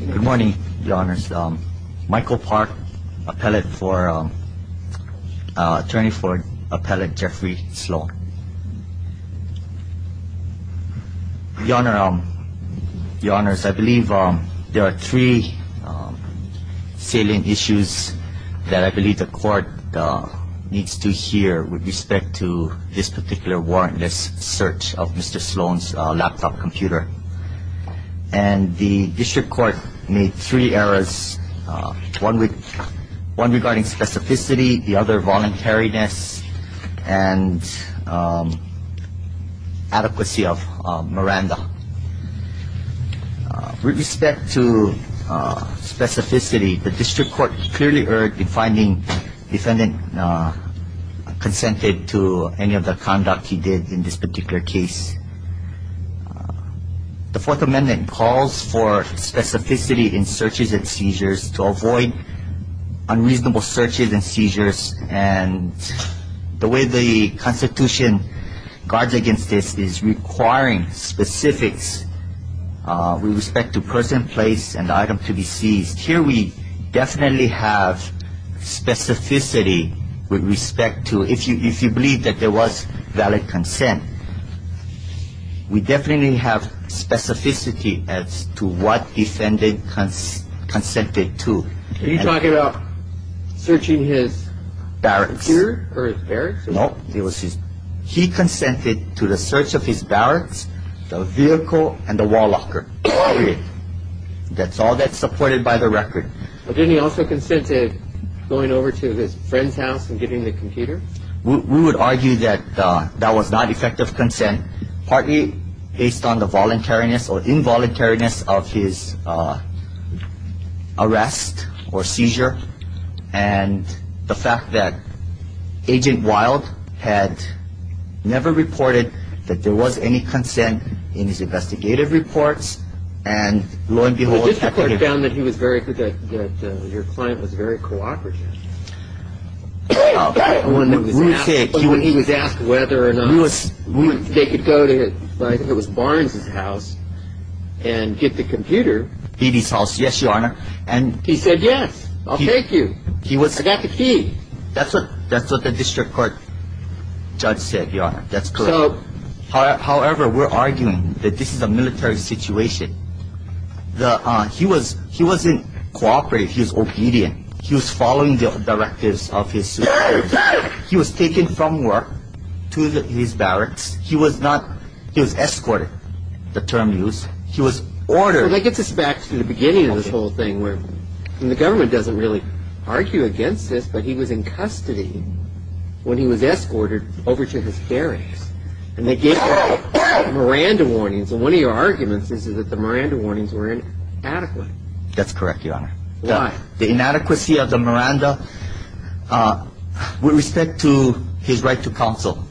Good morning, your honors. Michael Park, attorney for appellate Jeffrey Sloan. Your honors, I believe there are three salient issues that I believe the court needs to hear with respect to this particular warrantless search of Mr. Sloan's laptop computer. And the district court made three errors, one regarding specificity, the other voluntariness, and adequacy of Miranda. With respect to specificity, the district court clearly erred in finding defendant consented to any of the conduct he did in this particular case. The fourth amendment calls for specificity in searches and seizures to avoid unreasonable searches and seizures. And the way the Constitution guards against this is requiring specifics with respect to person, place, and item to be seized. Here we definitely have specificity with respect to, if you believe that there was valid consent, we definitely have specificity as to what defendant consented to. Are you talking about searching his barracks? No, he consented to the search of his barracks, the vehicle, and the wall locker. That's all that's supported by the record. Didn't he also consented going over to his friend's house and getting the computer? We would argue that that was not effective consent, partly based on the voluntariness or involuntariness of his arrest or seizure. And the fact that Agent Wild had never reported that there was any consent in his investigative reports. And lo and behold, the district court found that your client was very cooperative. When he was asked whether or not they could go to, I think it was Barnes' house, and get the computer. He said yes, I'll take you. I got the key. That's what the district court judge said, Your Honor. That's correct. However, we're arguing that this is a military situation. He wasn't cooperative. He was obedient. He was following the directives of his superiors. He was taken from work to his barracks. He was escorted, the term used. He was ordered. That gets us back to the beginning of this whole thing where the government doesn't really argue against this, but he was in custody when he was escorted over to his barracks, and they gave him Miranda warnings. And one of your arguments is that the Miranda warnings were inadequate. That's correct, Your Honor. Why? The inadequacy of the Miranda with respect to his right to counsel.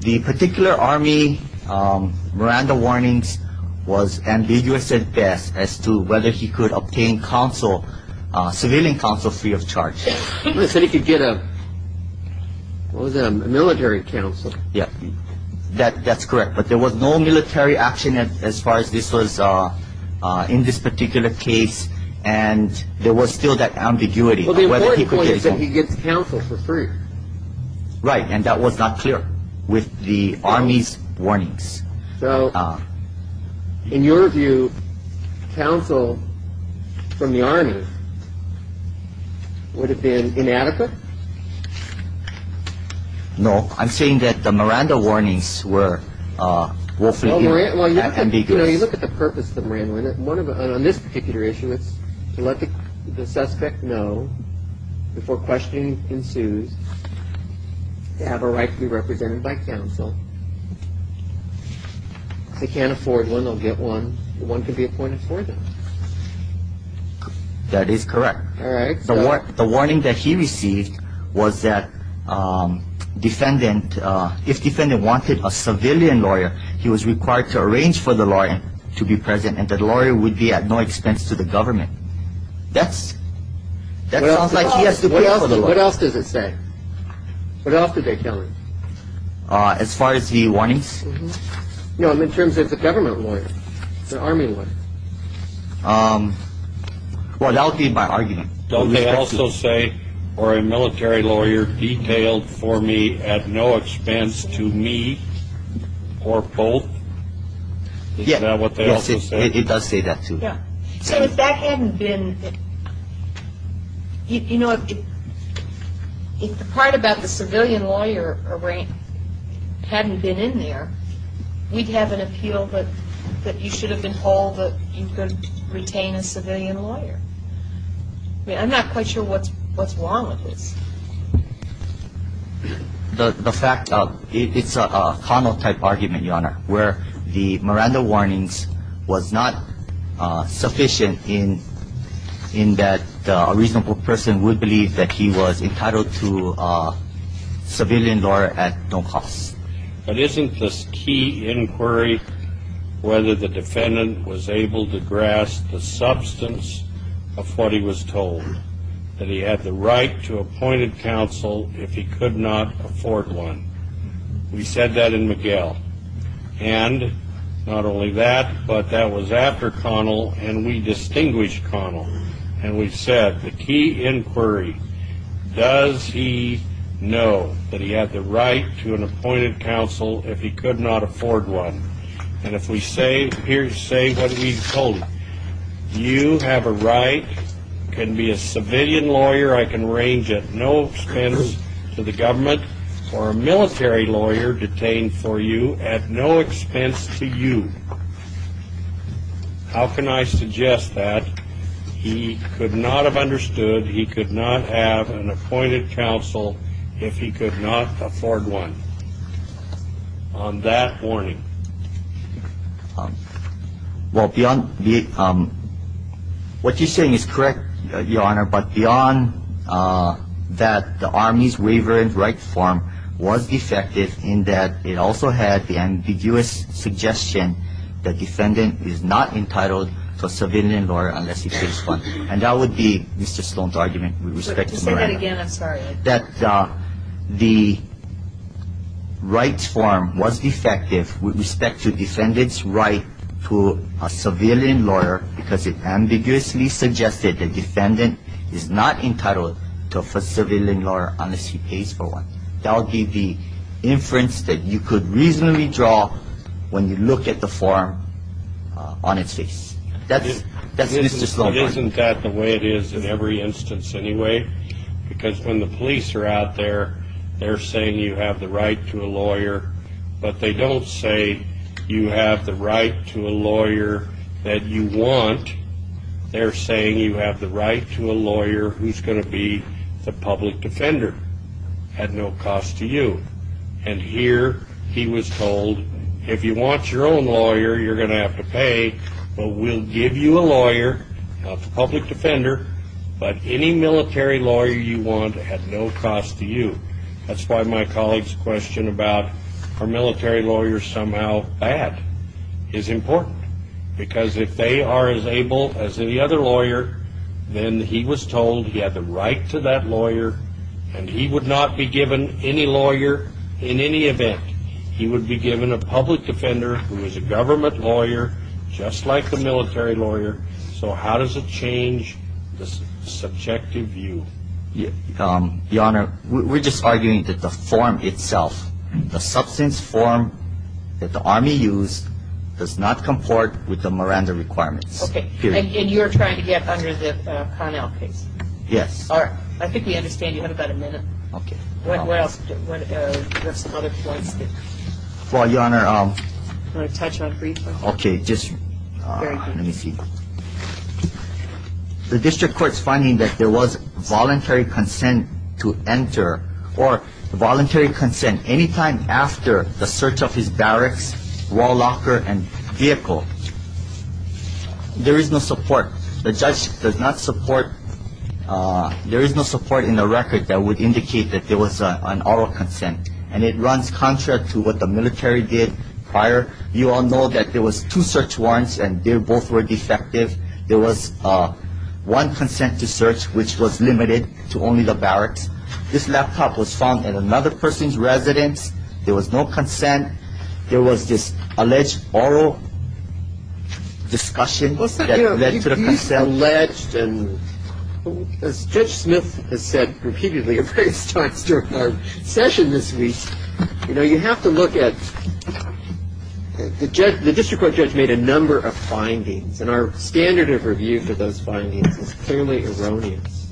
The particular army Miranda warnings was ambiguous at best as to whether he could obtain counsel, civilian counsel, free of charge. He said he could get a military counsel. That's correct, but there was no military action as far as this was in this particular case, and there was still that ambiguity. The important point is that he gets counsel for free. Right, and that was not clear with the army's warnings. So in your view, counsel from the army would have been inadequate? No, I'm saying that the Miranda warnings were woefully ambiguous. You know, you look at the purpose of the Miranda warnings. On this particular issue, it's to let the suspect know before questioning ensues, they have a right to be represented by counsel. If they can't afford one, they'll get one. One can be appointed for them. That is correct. All right. The warning that he received was that defendant, if defendant wanted a civilian lawyer, he was required to arrange for the lawyer to be present, and the lawyer would be at no expense to the government. That sounds like he has to pay for the lawyer. What else does it say? What else did they tell him? As far as the warnings? No, in terms of the government lawyer, the army lawyer. Well, that would be my argument. Don't they also say, or a military lawyer detailed for me at no expense to me or both? Yes. Is that what they also say? It does say that, too. Yeah. So if that hadn't been, you know, if the part about the civilian lawyer hadn't been in there, we'd have an appeal that you should have been told that you could retain a civilian lawyer. I mean, I'm not quite sure what's wrong with this. The fact of it's a Connell-type argument, Your Honor, where the Miranda warnings was not sufficient in that a reasonable person would believe that he was entitled to a civilian lawyer at no cost. But isn't this key inquiry whether the defendant was able to grasp the substance of what he was told, that he had the right to appointed counsel if he could not afford one? We said that in McGill. And not only that, but that was after Connell, and we distinguished Connell. And we said the key inquiry, does he know that he had the right to an appointed counsel if he could not afford one? And if we say what we've told him, you have a right, can be a civilian lawyer I can arrange at no expense to the government or a military lawyer detained for you at no expense to you. How can I suggest that he could not have understood, he could not have an appointed counsel if he could not afford one on that warning? Well, beyond what you're saying is correct, Your Honor. But beyond that, the Army's waiver and right form was defective in that it also had the ambiguous suggestion that defendant is not entitled to a civilian lawyer unless he pays one. And that would be Mr. Sloan's argument with respect to Miranda. Say that again, I'm sorry. That the right form was defective with respect to defendant's right to a civilian lawyer because it ambiguously suggested that the defendant is not entitled to a civilian lawyer unless he pays for one. That would be the inference that you could reasonably draw when you look at the form on its face. That's Mr. Sloan's argument. Isn't that the way it is in every instance anyway? Because when the police are out there, they're saying you have the right to a lawyer, but they don't say you have the right to a lawyer that you want. They're saying you have the right to a lawyer who's going to be the public defender at no cost to you. And here he was told, if you want your own lawyer, you're going to have to pay, but we'll give you a lawyer, not the public defender, but any military lawyer you want at no cost to you. That's why my colleague's question about are military lawyers somehow bad is important. Because if they are as able as any other lawyer, then he was told he had the right to that lawyer, and he would not be given any lawyer in any event. He would be given a public defender who is a government lawyer just like the military lawyer. So how does it change the subjective view? Your Honor, we're just arguing that the form itself, the substance form that the Army used does not comport with the Miranda requirements. Okay. And you're trying to get under the Connell case? Yes. All right. I think we understand you have about a minute. Okay. What else? Do you have some other points that you want to touch on briefly? Okay. Just let me see. The district court's finding that there was voluntary consent to enter, or voluntary consent any time after the search of his barracks, wall locker, and vehicle. There is no support. The judge does not support. There is no support in the record that would indicate that there was an oral consent, and it runs contrary to what the military did prior. You all know that there was two search warrants, and they both were defective. And there was no consent. This laptop was found in another person's residence. There was no consent. There was this alleged oral discussion that led to the consent. Well, you know, if he's alleged, and as Judge Smith has said repeatedly at various times during our session this week, you know, you have to look at the judge. The district court judge made a number of findings, and our standard of review for those findings is clearly erroneous.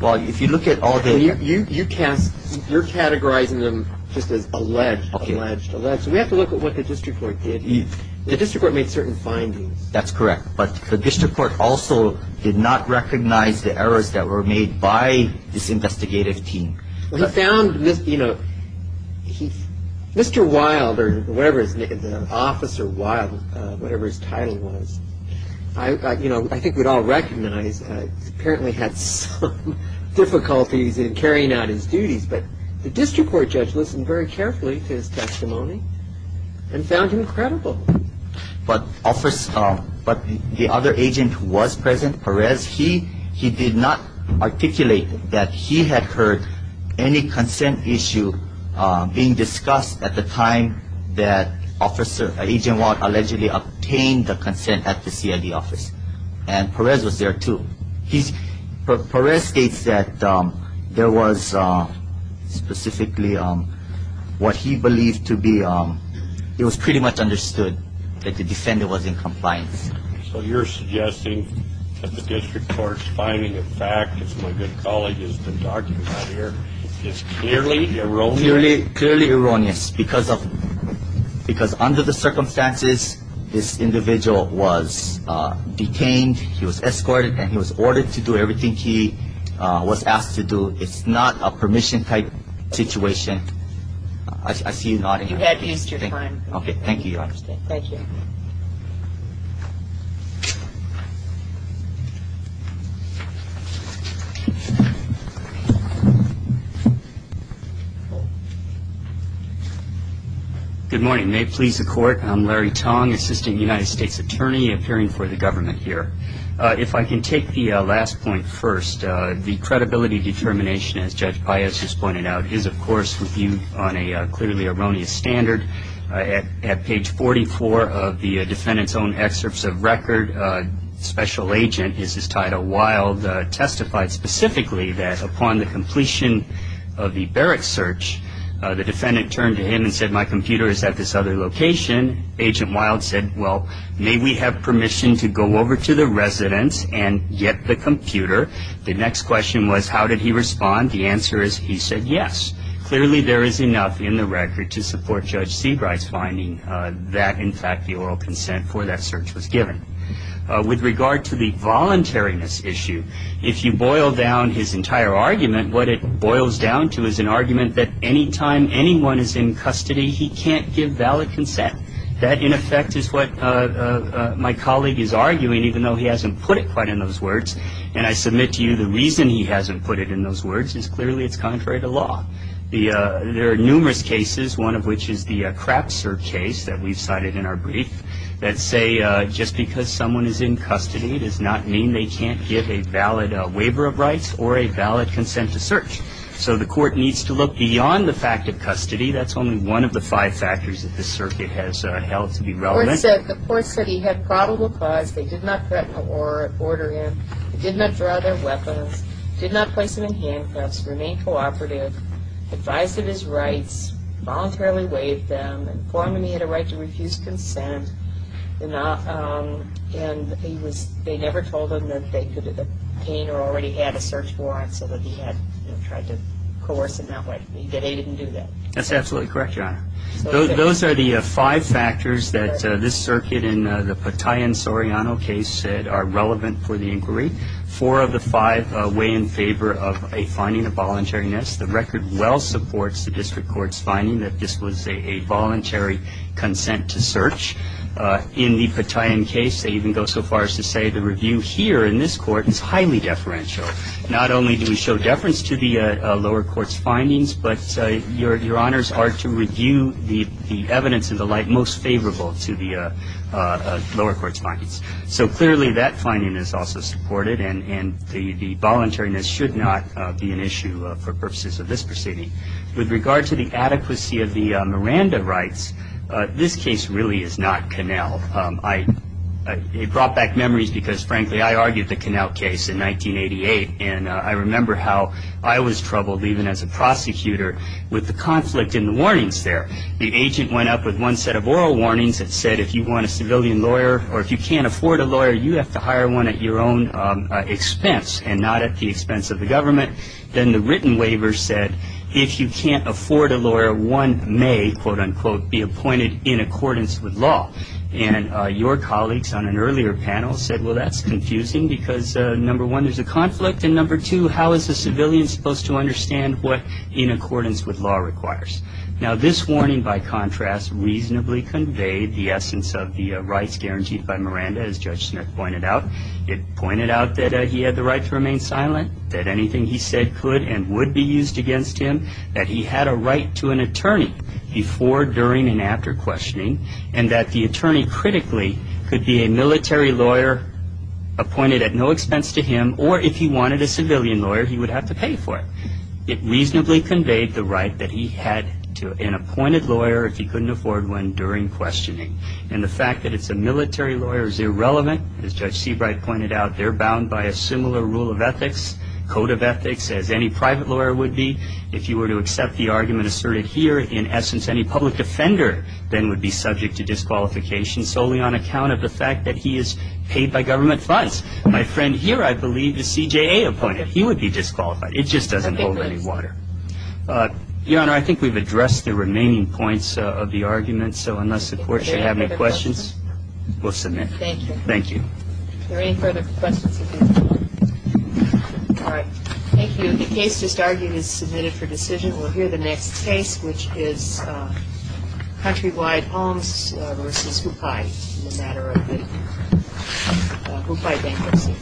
Well, if you look at all the- You're categorizing them just as alleged, alleged, alleged. So we have to look at what the district court did. The district court made certain findings. That's correct. But the district court also did not recognize the errors that were made by this investigative team. Well, he found, you know, Mr. Wild or whatever his name, Officer Wild, whatever his title was, you know, I think we'd all recognize he apparently had some difficulties in carrying out his duties. But the district court judge listened very carefully to his testimony and found him credible. But the other agent who was present, Perez, he did not articulate that he had heard any consent issue being discussed at the time that Agent Wild allegedly obtained the consent at the CID office. And Perez was there, too. Perez states that there was specifically what he believed to be, it was pretty much understood that the defendant was in compliance. So you're suggesting that the district court's finding, in fact, as my good colleague has been talking about here, is clearly erroneous? Clearly erroneous because under the circumstances, this individual was detained, he was escorted, and he was ordered to do everything he was asked to do. It's not a permission-type situation. I see you nodding your head. You had me as your friend. Okay, thank you. I hope you understand. Thank you. Good morning. May it please the Court, I'm Larry Tong, Assistant United States Attorney, appearing for the government here. If I can take the last point first, the credibility determination, as Judge Paez has pointed out, is, of course, reviewed on a clearly erroneous standard. At page 44 of the defendant's own excerpts of record, Special Agent, as his title, Wild, testified specifically that upon the completion of the barrack search, the defendant turned to him and said, my computer is at this other location. Agent Wild said, well, may we have permission to go over to the residence and get the computer? The next question was, how did he respond? The answer is he said yes. Clearly, there is enough in the record to support Judge Seabright's finding that, in fact, the oral consent for that search was given. With regard to the voluntariness issue, if you boil down his entire argument, what it boils down to is an argument that any time anyone is in custody, he can't give valid consent. That, in effect, is what my colleague is arguing, even though he hasn't put it quite in those words. And I submit to you the reason he hasn't put it in those words is clearly it's contrary to law. There are numerous cases, one of which is the Krapzer case that we've cited in our brief, that say just because someone is in custody does not mean they can't give a valid waiver of rights or a valid consent to search. So the court needs to look beyond the fact of custody. That's only one of the five factors that this circuit has held to be relevant. The court said he had probable cause. They did not threaten to order him. They did not draw their weapons. They did not place him in handcuffs. Remained cooperative. Advised of his rights. Voluntarily waived them. Informed him he had a right to refuse consent. And they never told him that they could obtain or already had a search warrant so that he had tried to coerce him that way. They didn't do that. That's absolutely correct, Your Honor. Those are the five factors that this circuit in the Petain-Soriano case said are relevant for the inquiry. Four of the five weigh in favor of a finding of voluntariness. The record well supports the district court's finding that this was a voluntary consent to search. In the Petain case, they even go so far as to say the review here in this court is highly deferential. Not only do we show deference to the lower court's findings, but Your Honors are to review the evidence and the like most favorable to the lower court's findings. So clearly that finding is also supported, and the voluntariness should not be an issue for purposes of this proceeding. With regard to the adequacy of the Miranda rights, this case really is not Connell. It brought back memories because, frankly, I argued the Connell case in 1988, and I remember how I was troubled even as a prosecutor with the conflict in the warnings there. The agent went up with one set of oral warnings that said if you want a civilian lawyer or if you can't afford a lawyer, you have to hire one at your own expense and not at the expense of the government. Then the written waiver said if you can't afford a lawyer, one may, quote, unquote, be appointed in accordance with law. And your colleagues on an earlier panel said, well, that's confusing because, number one, there's a conflict, and number two, how is a civilian supposed to understand what in accordance with law requires? Now, this warning, by contrast, reasonably conveyed the essence of the rights guaranteed by Miranda, as Judge Smith pointed out. It pointed out that he had the right to remain silent, that anything he said could and would be used against him, that he had a right to an attorney before, during, and after questioning, and that the attorney critically could be a military lawyer appointed at no expense to him, or if he wanted a civilian lawyer, he would have to pay for it. It reasonably conveyed the right that he had to an appointed lawyer if he couldn't afford one during questioning. And the fact that it's a military lawyer is irrelevant. As Judge Seabright pointed out, they're bound by a similar rule of ethics, code of ethics, as any private lawyer would be. If you were to accept the argument asserted here, in essence, any public defender then would be subject to disqualification solely on account of the fact that he is paid by government funds. My friend here, I believe, is CJA appointed. He would be disqualified. It just doesn't hold any water. Your Honor, I think we've addressed the remaining points of the argument. So unless the Court should have any questions, we'll submit. Thank you. Thank you. Any further questions? All right. Thank you. The case just argued is submitted for decision. We'll hear the next case, which is Countrywide Homes v. Hupai in the matter of the Hupai bankruptcy.